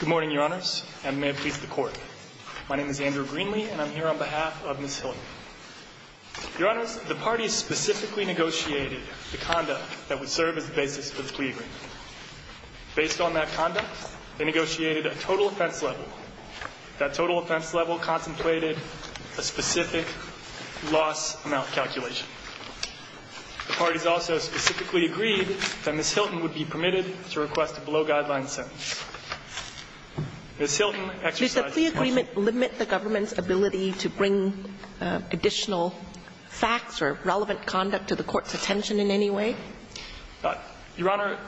Good morning, Your Honors, and may it please the Court. My name is Andrew Greenlee, and I'm here on behalf of Ms. Hilton. Your Honors, the parties specifically negotiated the conduct that would serve as the basis for the plea agreement. Based on that conduct, they negotiated a total offense level. That total offense level contemplated a specific loss-amount calculation. The parties also specifically agreed that Ms. Hilton would be permitted to request a below-guideline sentence. Ms. Hilton exercised the right to question. Does the plea agreement limit the government's ability to bring additional facts or relevant conduct to the Court's attention in any way? Your Honor,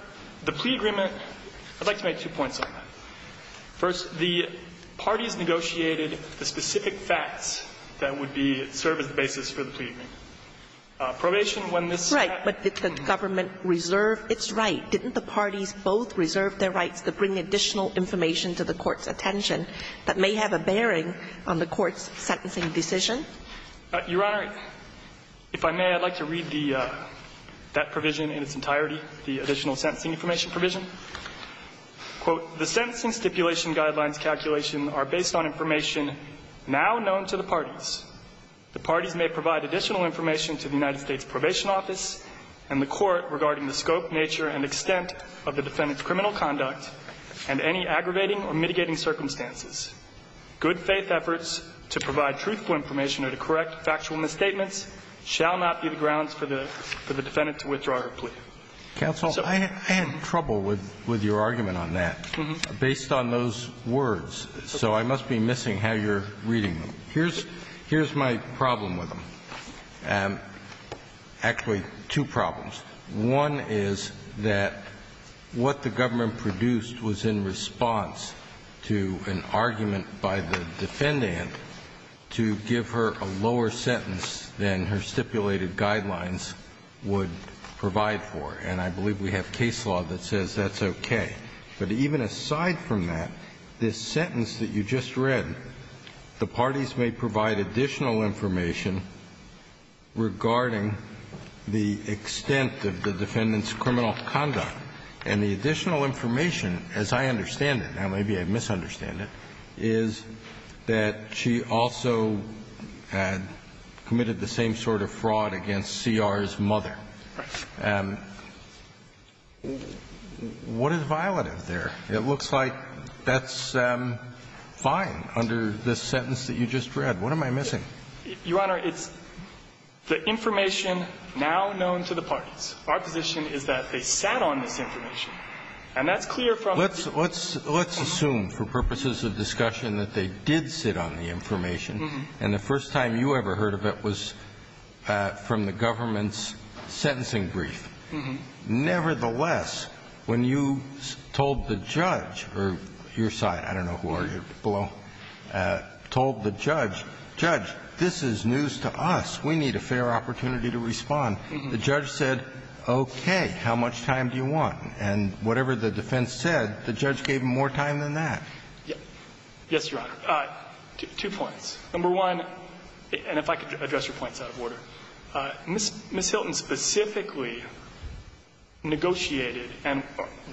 the plea agreement – I'd like to make two points on that. First, the parties negotiated the specific facts that would be – serve as the basis for the plea agreement. Probation, when this happened – Right. But did the government reserve its right? Didn't the parties both reserve their rights to bring additional information to the Court's attention that may have a bearing on the Court's sentencing decision? Your Honor, if I may, I'd like to read the – that provision in its entirety, the additional sentencing information provision. Quote, The sentencing stipulation guidelines calculation are based on information now known to the parties. The parties may provide additional information to the United States Probation Office and the Court regarding the scope, nature, and extent of the defendant's criminal conduct and any aggravating or mitigating circumstances. Good-faith efforts to provide truthful information or to correct factual misstatements shall not be the grounds for the defendant to withdraw her plea. Counsel, I had trouble with your argument on that based on those words. So I must be missing how you're reading them. Here's my problem with them. Actually, two problems. One is that what the government produced was in response to an argument by the defendant to give her a lower sentence than her stipulated guidelines would provide for. And I believe we have case law that says that's okay. But even aside from that, this sentence that you just read, the parties may provide additional information regarding the extent of the defendant's criminal conduct. And the additional information, as I understand it, now maybe I misunderstand it, is that she also had committed the same sort of fraud against C.R.'s mother. Right. What is violative there? It looks like that's fine under this sentence that you just read. What am I missing? Your Honor, it's the information now known to the parties. Our position is that they sat on this information, and that's clear from the defendant. We assume for purposes of discussion that they did sit on the information, and the first time you ever heard of it was from the government's sentencing brief. Nevertheless, when you told the judge or your side, I don't know who are you below, told the judge, judge, this is news to us, we need a fair opportunity to respond, the judge said, okay, how much time do you want? And whatever the defense said, the judge gave him more time than that. Yes, Your Honor. Two points. Number one, and if I could address your points out of order. Ms. Hilton specifically negotiated, and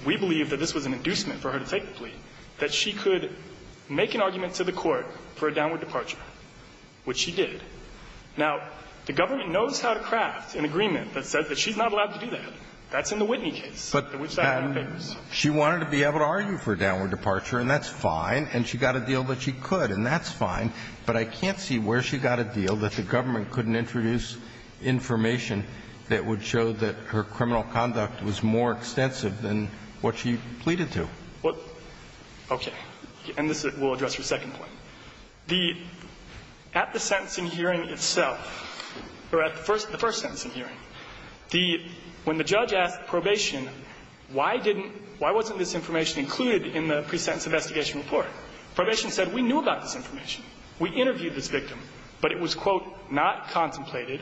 we believe that this was an inducement for her to take the plea, that she could make an argument to the Court for a downward departure, which she did. Now, the government knows how to craft an agreement that says that she's not allowed to do that. That's in the Whitney case. But she wanted to be able to argue for a downward departure, and that's fine. And she got a deal that she could, and that's fine. But I can't see where she got a deal that the government couldn't introduce information that would show that her criminal conduct was more extensive than what she pleaded to. Well, okay. And this will address your second point. At the sentencing hearing itself, or at the first sentencing hearing, the – when the judge asked probation, why didn't – why wasn't this information included in the pre-sentence investigation report? Probation said, we knew about this information. We interviewed this victim, but it was, quote, not contemplated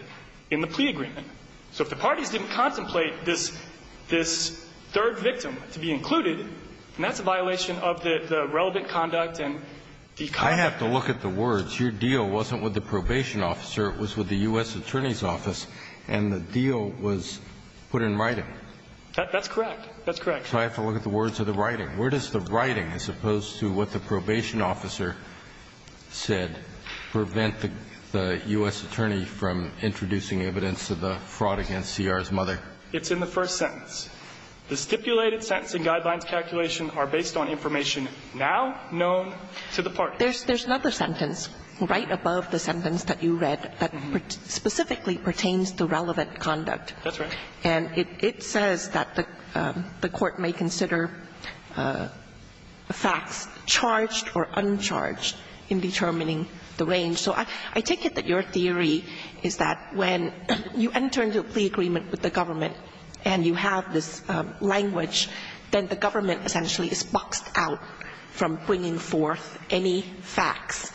in the plea agreement. So if the parties didn't contemplate this – this third victim to be included, and that's a violation of the relevant conduct and the – I have to look at the words. Your deal wasn't with the probation officer. It was with the U.S. attorney's office, and the deal was put in writing. That's correct. That's correct. So I have to look at the words of the writing. Where does the writing, as opposed to what the probation officer said, prevent the U.S. attorney from introducing evidence of the fraud against CR's mother? It's in the first sentence. The stipulated sentencing guidelines calculation are based on information now known to the parties. There's another sentence right above the sentence that you read that specifically pertains to relevant conduct. That's right. And it says that the court may consider facts charged or uncharged in determining the range. So I take it that your theory is that when you enter into a plea agreement with the government and you have this language, then the government essentially is boxed out from bringing forth any facts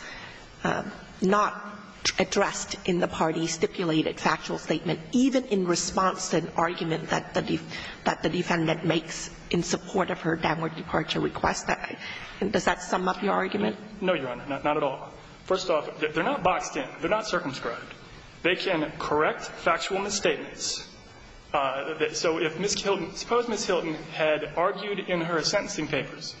not addressed in the party's stipulated factual statement, even in response to an argument that the defendant makes in support of her downward departure request. Does that sum up your argument? No, Your Honor. Not at all. First off, they're not boxed in. They're not circumscribed. They can correct factual misstatements. So if Ms. Hilton – suppose Ms. Hilton had argued in her sentencing papers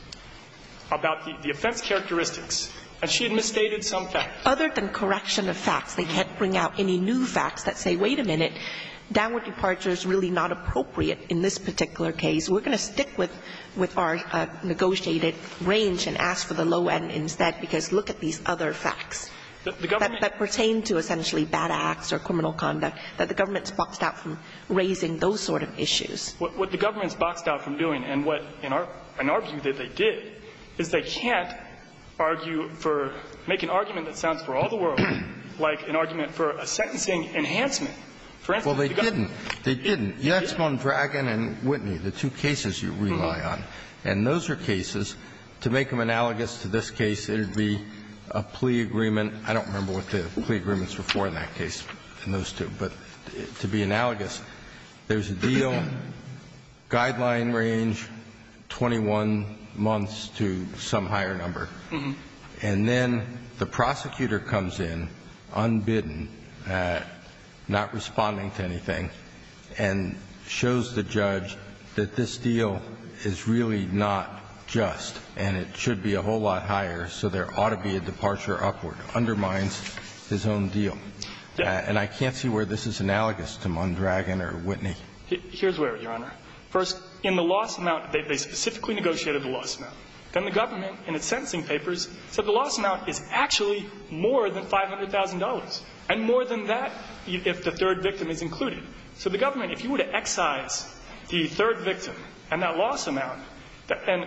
about the offense characteristics, and she had misstated some facts. Other than correction of facts, they can't bring out any new facts that say, wait a minute, downward departure is really not appropriate in this particular case. We're going to stick with our negotiated range and ask for the low end instead, because look at these other facts. The government – That pertain to essentially bad acts or criminal conduct, that the government's boxed out from raising those sort of issues. What the government's boxed out from doing, and what in our – in our view that they did, is they can't argue for – make an argument that sounds for all the world like an argument for a sentencing enhancement. Well, they didn't. They didn't. You asked them on Dragon and Whitney, the two cases you rely on, and those are cases. To make them analogous to this case, it would be a plea agreement. I don't remember what the plea agreements were for in that case, in those two. But to be analogous, there's a deal, guideline range, 21 months to some higher number, and then the prosecutor comes in unbidden, not responding to anything, and shows the judge that this deal is really not just and it should be a whole lot higher, so there ought to be a departure upward, undermines his own deal. And I can't see where this is analogous to Mondragon or Whitney. Here's where, Your Honor. First, in the loss amount, they specifically negotiated the loss amount. Then the government, in its sentencing papers, said the loss amount is actually more than $500,000, and more than that if the third victim is included. So the government, if you were to excise the third victim and that loss amount – and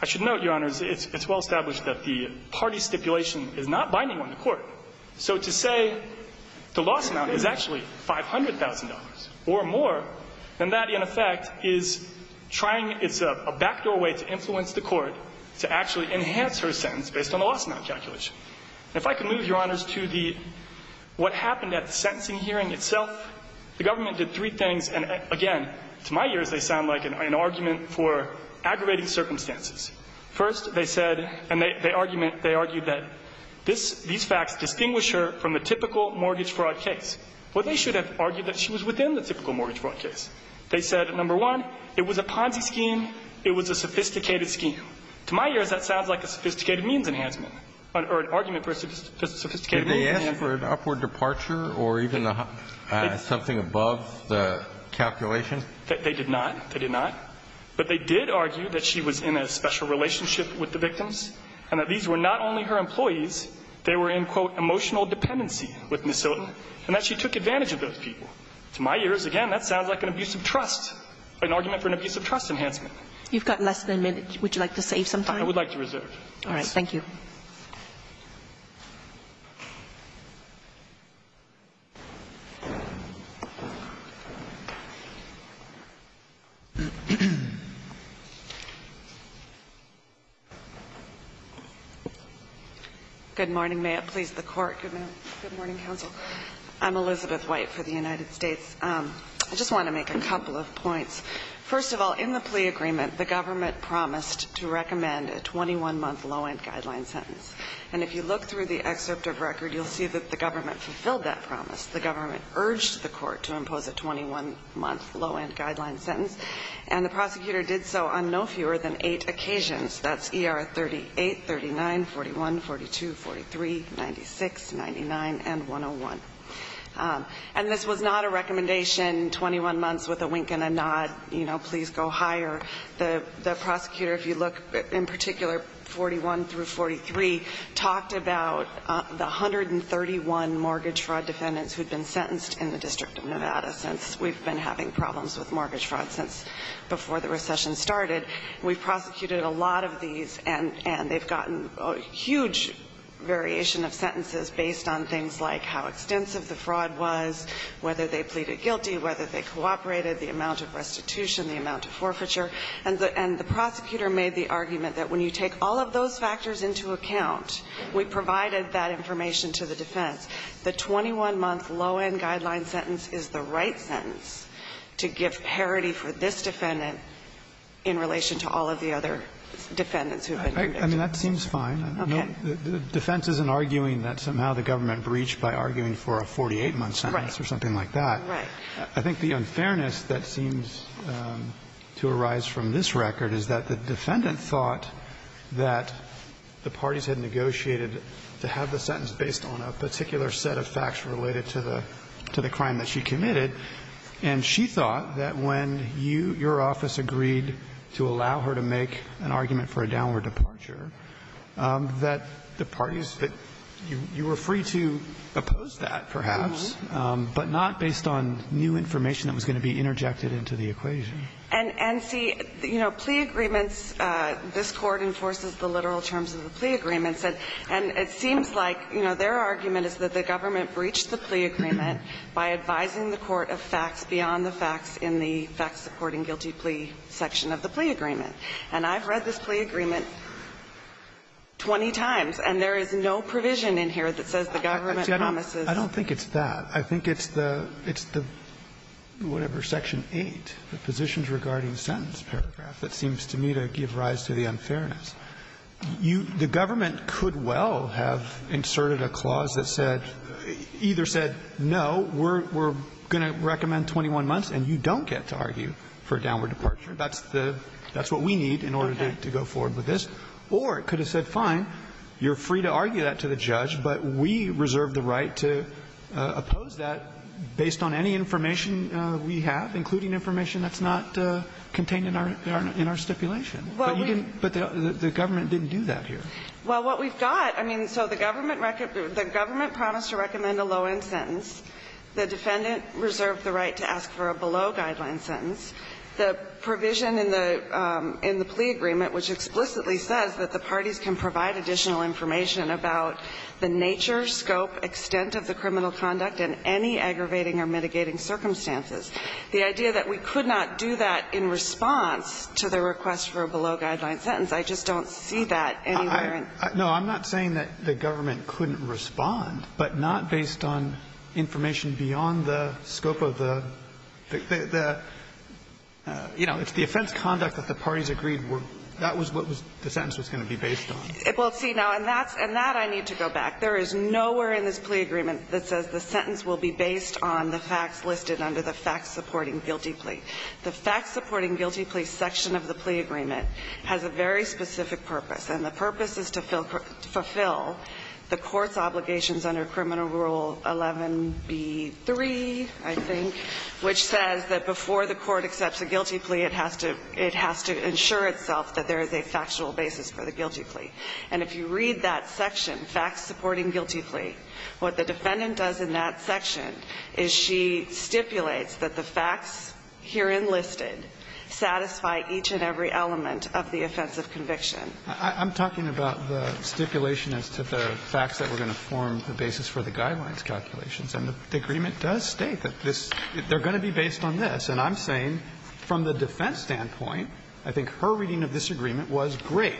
I should note, Your Honors, it's well established that the party stipulation is not binding on the court. So to say the loss amount is actually $500,000 or more than that, in effect, is trying – it's a backdoor way to influence the court to actually enhance her sentence based on the loss amount calculation. And if I could move, Your Honors, to the – what happened at the sentencing hearing itself, the government did three things. And again, to my ears, they sound like an argument for aggravating circumstances. First, they said – and they argument – they argued that this – these facts distinguish her from a typical mortgage fraud case. Well, they should have argued that she was within the typical mortgage fraud case. They said, number one, it was a Ponzi scheme. It was a sophisticated scheme. To my ears, that sounds like a sophisticated means enhancement, or an argument for a sophisticated means enhancement. Did they ask for an upward departure or even something above the calculation? They did not. They did not. But they did argue that she was in a special relationship with the victims, and that these were not only her employees, they were in, quote, emotional dependency with Ms. Sillerton, and that she took advantage of those people. To my ears, again, that sounds like an abuse of trust, an argument for an abuse of trust enhancement. You've got less than a minute. Would you like to save some time? I would like to reserve. All right. Thank you. Thank you. Good morning. May it please the Court. Good morning. Good morning, counsel. I'm Elizabeth White for the United States. I just want to make a couple of points. First of all, in the plea agreement, the government promised to recommend a 21-month low-end guideline sentence. And if you look through the excerpt of record, you'll see that the government fulfilled that promise. The government urged the court to impose a 21-month low-end guideline sentence, and the prosecutor did so on no fewer than eight occasions. That's ER 38, 39, 41, 42, 43, 96, 99, and 101. And this was not a recommendation, 21 months with a wink and a nod, you know, please go higher. The prosecutor, if you look in particular 41 through 43, talked about the 131 mortgage fraud defendants who had been sentenced in the District of Nevada since we've been having problems with mortgage fraud since before the recession started. We've prosecuted a lot of these, and they've gotten a huge variation of sentences based on things like how extensive the fraud was, whether they pleaded guilty, whether they cooperated, the amount of restitution, the amount of forfeiture. And the prosecutor made the argument that when you take all of those factors into account, we provided that information to the defense. The 21-month low-end guideline sentence is the right sentence to give parity for this defendant in relation to all of the other defendants who have been convicted. I mean, that seems fine. Okay. Defense isn't arguing that somehow the government breached by arguing for a 48-month sentence or something like that. Right. I think the unfairness that seems to arise from this record is that the defendant thought that the parties had negotiated to have the sentence based on a particular set of facts related to the crime that she committed. And she thought that when you, your office, agreed to allow her to make an argument for a downward departure, that the parties, that you were free to oppose that, perhaps, but not based on new information that was going to be interjected into the equation. And, see, you know, plea agreements, this Court enforces the literal terms of the plea agreements. And it seems like, you know, their argument is that the government breached the plea agreement by advising the court of facts beyond the facts in the facts supporting guilty plea section of the plea agreement. And I've read this plea agreement 20 times, and there is no provision in here that says the government promises. I don't think it's that. I think it's the, it's the, whatever, section 8, the positions regarding sentence paragraph, that seems to me to give rise to the unfairness. You, the government could well have inserted a clause that said, either said, no, we're going to recommend 21 months and you don't get to argue for a downward departure. That's the, that's what we need in order to go forward with this. Or it could have said, fine, you're free to argue that to the judge, but we reserve the right to oppose that based on any information we have, including information that's not contained in our, in our stipulation. But you didn't, but the government didn't do that here. Well, what we've got, I mean, so the government, the government promised to recommend a low-end sentence. The defendant reserved the right to ask for a below-guideline sentence. The provision in the, in the plea agreement, which explicitly says that the parties can provide additional information about the nature, scope, extent of the criminal conduct in any aggravating or mitigating circumstances, the idea that we could not do that in response to the request for a below-guideline sentence, I just don't see that anywhere in. No, I'm not saying that the government couldn't respond, but not based on information beyond the scope of the, the, the, you know, if the offense conduct that the parties agreed were, that was what was, the sentence was going to be based on. Well, see, now, and that's, and that I need to go back. There is nowhere in this plea agreement that says the sentence will be based on the facts listed under the facts-supporting guilty plea. The facts-supporting guilty plea section of the plea agreement has a very specific purpose, and the purpose is to fulfill the court's obligations under Criminal Rule 11b-3, I think, which says that before the court accepts a guilty plea, it has to, it has to ensure itself that there is a factual basis for the guilty plea. And if you read that section, facts-supporting guilty plea, what the defendant does in that section is she stipulates that the facts herein listed satisfy each and every element of the offensive conviction. I'm talking about the stipulation as to the facts that we're going to form the basis for the guidelines calculations, and the agreement does state that this, they're going to be based on this. And I'm saying from the defense standpoint, I think her reading of this agreement was, great,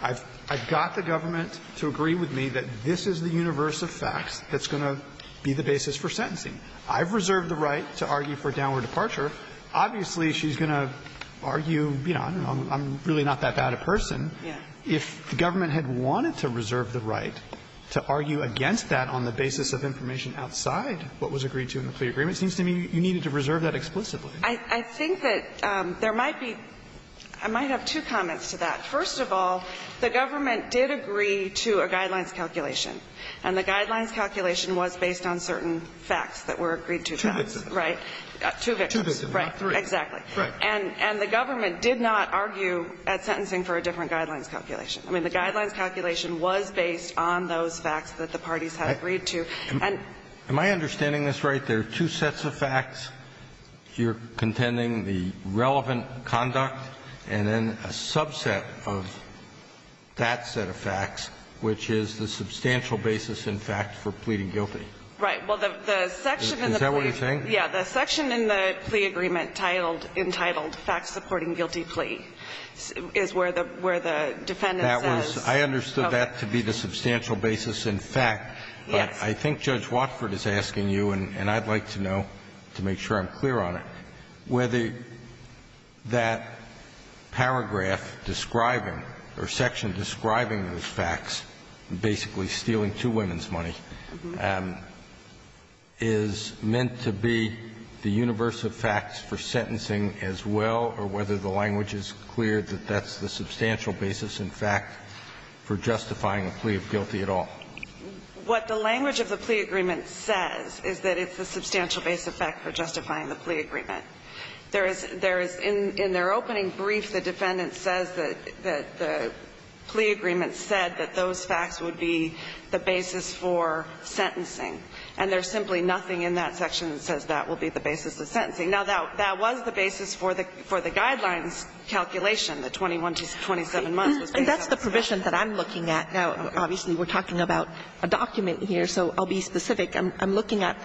I've, I've got the government to agree with me that this is the universe of facts that's going to be the basis for sentencing. I've reserved the right to argue for downward departure. Obviously, she's going to argue, you know, I'm really not that bad a person. If the government had wanted to reserve the right to argue against that on the basis of information outside what was agreed to in the plea agreement, it seems to me you needed to reserve that explicitly. I think that there might be, I might have two comments to that. First of all, the government did agree to a guidelines calculation, and the guidelines calculation was based on certain facts that were agreed to. Two victims. Right. Two victims. Right. Three. Exactly. Right. And the government did not argue at sentencing for a different guidelines calculation. I mean, the guidelines calculation was based on those facts that the parties had agreed to. Am I understanding this right? There are two sets of facts, you're contending the relevant conduct, and then a subset of that set of facts, which is the substantial basis, in fact, for pleading guilty. Right. Well, the section in the plea agreement. Is that what you're saying? Yeah. The section in the plea agreement titled, entitled, facts supporting guilty plea, is where the defendant says. That was, I understood that to be the substantial basis in fact. Yes. I think Judge Watford is asking you, and I'd like to know to make sure I'm clear on it, whether that paragraph describing, or section describing those facts, basically stealing two women's money, is meant to be the universe of facts for sentencing as well, or whether the language is clear that that's the substantial basis, in fact, for justifying a plea of guilty at all. What the language of the plea agreement says is that it's the substantial base effect for justifying the plea agreement. There is, in their opening brief, the defendant says that the plea agreement said that those facts would be the basis for sentencing. And there's simply nothing in that section that says that will be the basis of sentencing. Now, that was the basis for the guidelines calculation, the 21 to 27 months. And that's the provision that I'm looking at. Now, obviously, we're talking about a document here, so I'll be specific. I'm looking at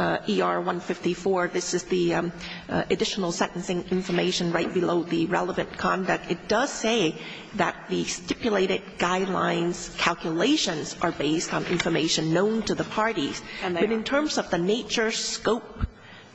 ER 154. This is the additional sentencing information right below the relevant conduct. It does say that the stipulated guidelines calculations are based on information known to the parties. But in terms of the nature, scope,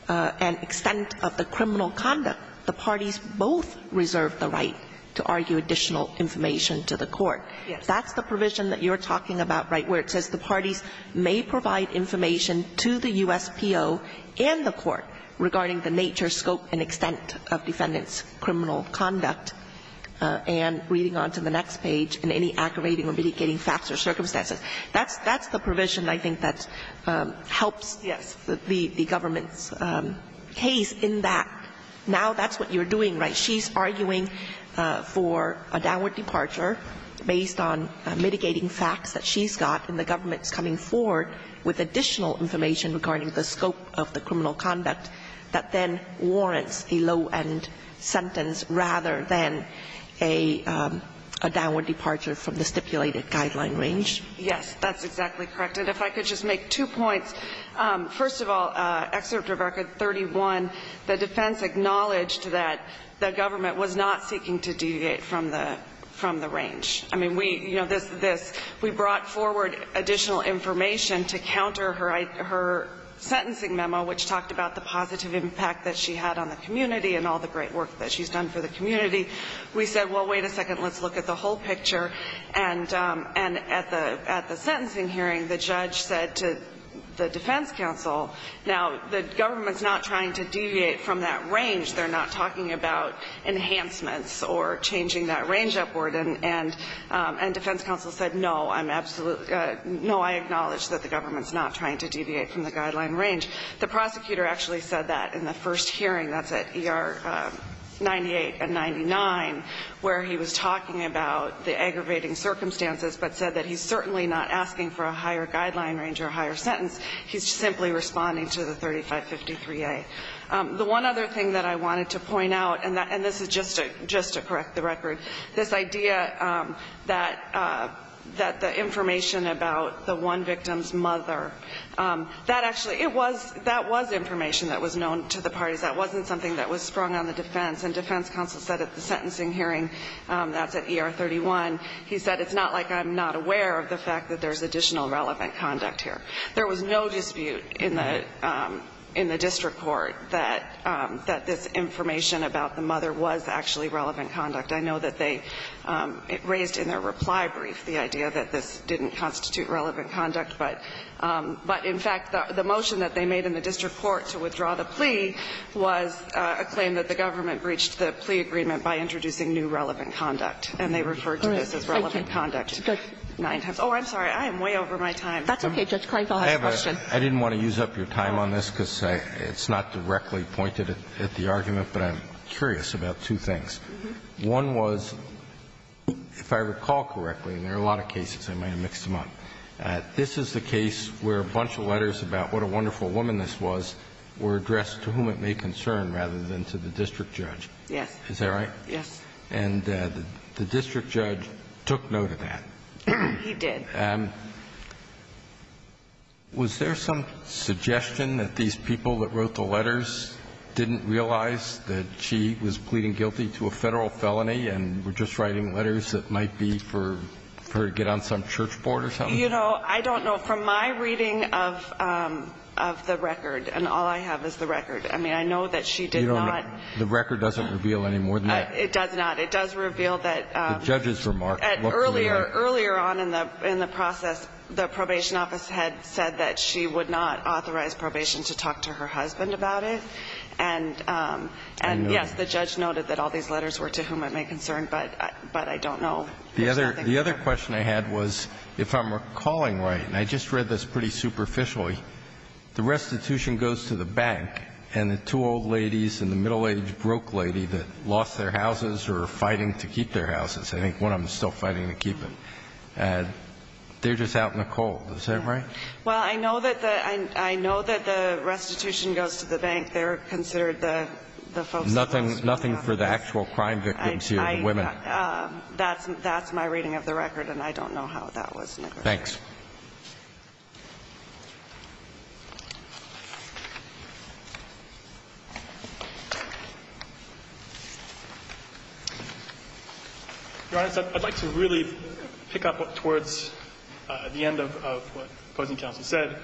and extent of the criminal conduct, the parties both reserve the right to argue additional information to the court. Yes. That's the provision that you're talking about, right, where it says the parties may provide information to the USPO and the court regarding the nature, scope, and extent of defendant's criminal conduct. And reading on to the next page, in any aggravating or mitigating facts or circumstances. That's the provision, I think, that helps the government's case in that. Now, that's what you're doing, right? She's arguing for a downward departure based on mitigating facts that she's got. And the government's coming forward with additional information regarding the scope of the criminal conduct that then warrants a low-end sentence rather than a downward departure from the stipulated guideline range. Yes, that's exactly correct. And if I could just make two points. First of all, Excerpt of Record 31, the defense acknowledged that the government was not seeking to deviate from the range. I mean, we, you know, this, we brought forward additional information to counter her sentencing memo, which talked about the positive impact that she had on the community and all the great work that she's done for the community. We said, well, wait a second, let's look at the whole picture. And at the sentencing hearing, the judge said to the defense counsel, now, the government's not trying to deviate from that range. They're not talking about enhancements or changing that range upward. And defense counsel said, no, I'm absolutely, no, I acknowledge that the government's not trying to deviate from the guideline range. The prosecutor actually said that in the first hearing, that's at ER 98 and 99, where he was talking about the aggravating circumstances, but said that he's certainly not asking for a higher guideline range or a higher sentence. He's simply responding to the 3553A. The one other thing that I wanted to point out, and this is just to correct the record, this idea that the information about the one victim's mother, that actually, it was, that was information that was known to the parties. That wasn't something that was sprung on the defense. And defense counsel said at the sentencing hearing, that's at ER 31, he said, it's not like I'm not aware of the fact that there's additional relevant conduct here. There was no dispute in the district court that this information about the mother was actually relevant conduct. I know that they raised in their reply brief the idea that this didn't constitute relevant conduct. But in fact, the motion that they made in the district court to withdraw the plea was a claim that the government breached the plea agreement by introducing new relevant conduct. And they referred to this as relevant conduct. Oh, I'm sorry. I am way over my time. That's okay, Judge Krenfeld, I have a question. I didn't want to use up your time on this, because it's not directly pointed at the argument, but I'm curious about two things. One was, if I recall correctly, and there are a lot of cases, I might have mixed them up, this is the case where a bunch of letters about what a wonderful woman this was were addressed to whom it may concern rather than to the district judge. Yes. Is that right? Yes. And the district judge took note of that. He did. And was there some suggestion that these people that wrote the letters didn't realize that she was pleading guilty to a Federal felony and were just writing letters that might be for her to get on some church board or something? You know, I don't know. From my reading of the record, and all I have is the record, I mean, I know that she did not. You don't know. The record doesn't reveal any more than that. It does reveal that the judge's remark looked more like that. Earlier on in the process, the probation office had said that she would not authorize probation to talk to her husband about it. And, yes, the judge noted that all these letters were to whom it may concern, but I don't know. There's nothing further. The other question I had was, if I'm recalling right, and I just read this pretty superficially, the restitution goes to the bank, and the two old ladies and the middle-aged broke lady that lost their houses or are fighting to keep their houses, I think one of them is still fighting to keep it, and they're just out in the cold. Is that right? Well, I know that the restitution goes to the bank. They're considered the folks that lost their houses. Nothing for the actual crime victims here, the women. That's my reading of the record, and I don't know how that was negotiated. Thanks. Your Honor, I'd like to really pick up towards the end of what opposing counsel said.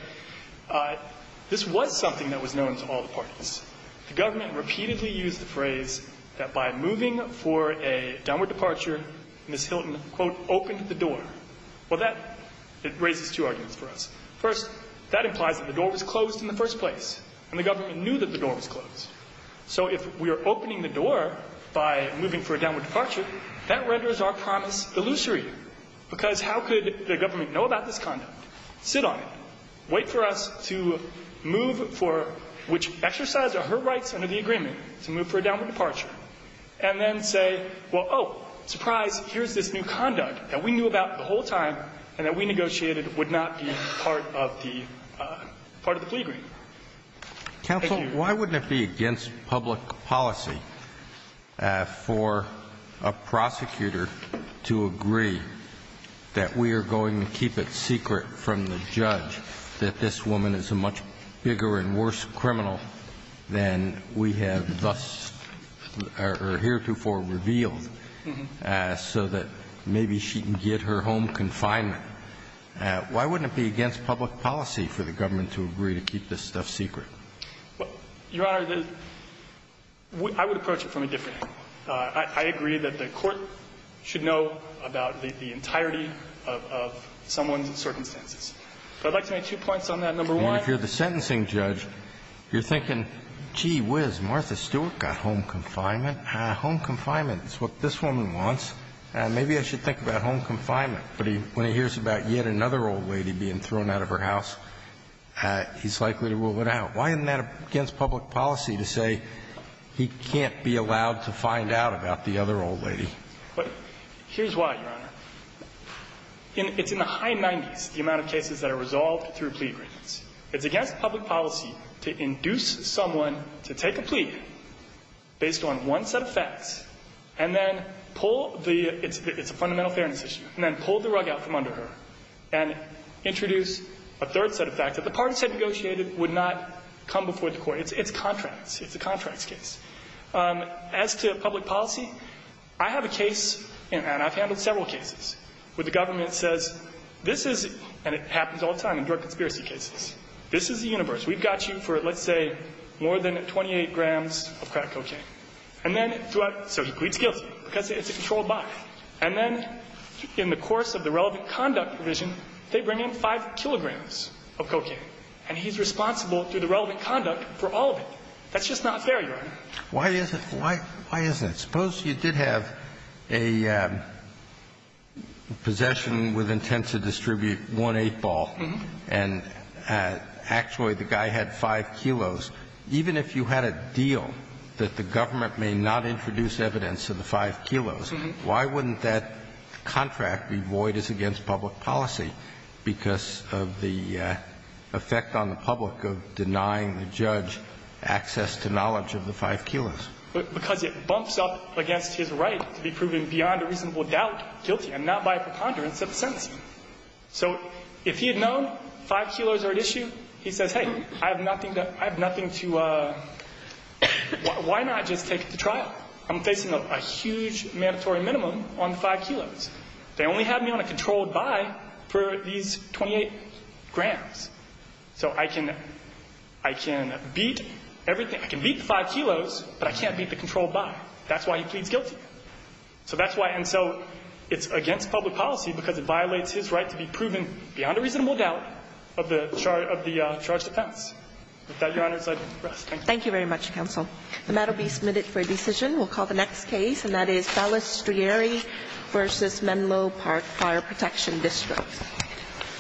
This was something that was known to all the parties. The government repeatedly used the phrase that by moving for a downward departure, Ms. Hilton, quote, opened the door. Well, that raises two arguments for us. First, that implies that the door was closed in the first place, and the government knew that the door was closed. So if we are opening the door by moving for a downward departure, that renders our promise illusory, because how could the government know about this conduct, sit on it, wait for us to move for which exercise are her rights under the agreement to move for a downward departure, and then say, well, oh, surprise, here's this new law that we negotiated for the whole time, and that we negotiated would not be part of the plea agreement. Thank you. Counsel, why wouldn't it be against public policy for a prosecutor to agree that we are going to keep it secret from the judge that this woman is a much bigger and worse criminal than we have thus or heretofore revealed, so that maybe she can get her home confinement? Why wouldn't it be against public policy for the government to agree to keep this stuff secret? Your Honor, I would approach it from a different angle. I agree that the Court should know about the entirety of someone's circumstances. But I'd like to make two points on that. Number one. If you're the sentencing judge, you're thinking, gee whiz, Martha Stewart got home confinement. Home confinement is what this woman wants. Maybe I should think about home confinement. But when he hears about yet another old lady being thrown out of her house, he's likely to rule it out. Why isn't that against public policy to say he can't be allowed to find out about the other old lady? Here's why, Your Honor. It's in the high 90s, the amount of cases that are resolved through plea agreements. It's against public policy to induce someone to take a plea based on one set of facts and then pull the – it's a fundamental fairness issue – and then pull the rug out from under her and introduce a third set of facts that the parties had negotiated would not come before the Court. It's contracts. It's a contracts case. As to public policy, I have a case, and I've handled several cases, where the government says this is – and it happens all the time in drug conspiracy cases – this is the universe. We've got you for, let's say, more than 28 grams of crack cocaine. And then throughout – so he pleads guilty because it's a controlled body. And then in the course of the relevant conduct provision, they bring in 5 kilograms of cocaine. And he's responsible through the relevant conduct for all of it. That's just not fair, Your Honor. Why is it – why isn't it? Suppose you did have a possession with intent to distribute one 8-ball, and actually the guy had 5 kilos. Even if you had a deal that the government may not introduce evidence of the 5 kilos, why wouldn't that contract be void as against public policy because of the effect on the public of denying the judge access to knowledge of the 5 kilos? Because it bumps up against his right to be proven beyond a reasonable doubt guilty and not by a preponderance of a sentence. So if he had known 5 kilos are at issue, he says, hey, I have nothing to – I have nothing to – why not just take it to trial? I'm facing a huge mandatory minimum on the 5 kilos. They only have me on a controlled body for these 28 grams. So I can – I can beat everything. I can beat the 5 kilos, but I can't beat the controlled body. That's why he pleads guilty. So that's why – and so it's against public policy because it violates his right to be proven beyond a reasonable doubt of the charge – of the charge to pass. With that, Your Honor, it's time to rest. Thank you. Thank you very much, counsel. The matter will be submitted for a decision. We'll call the next case, and that is Ballestrieri v. Menlo Park Fire Protection District.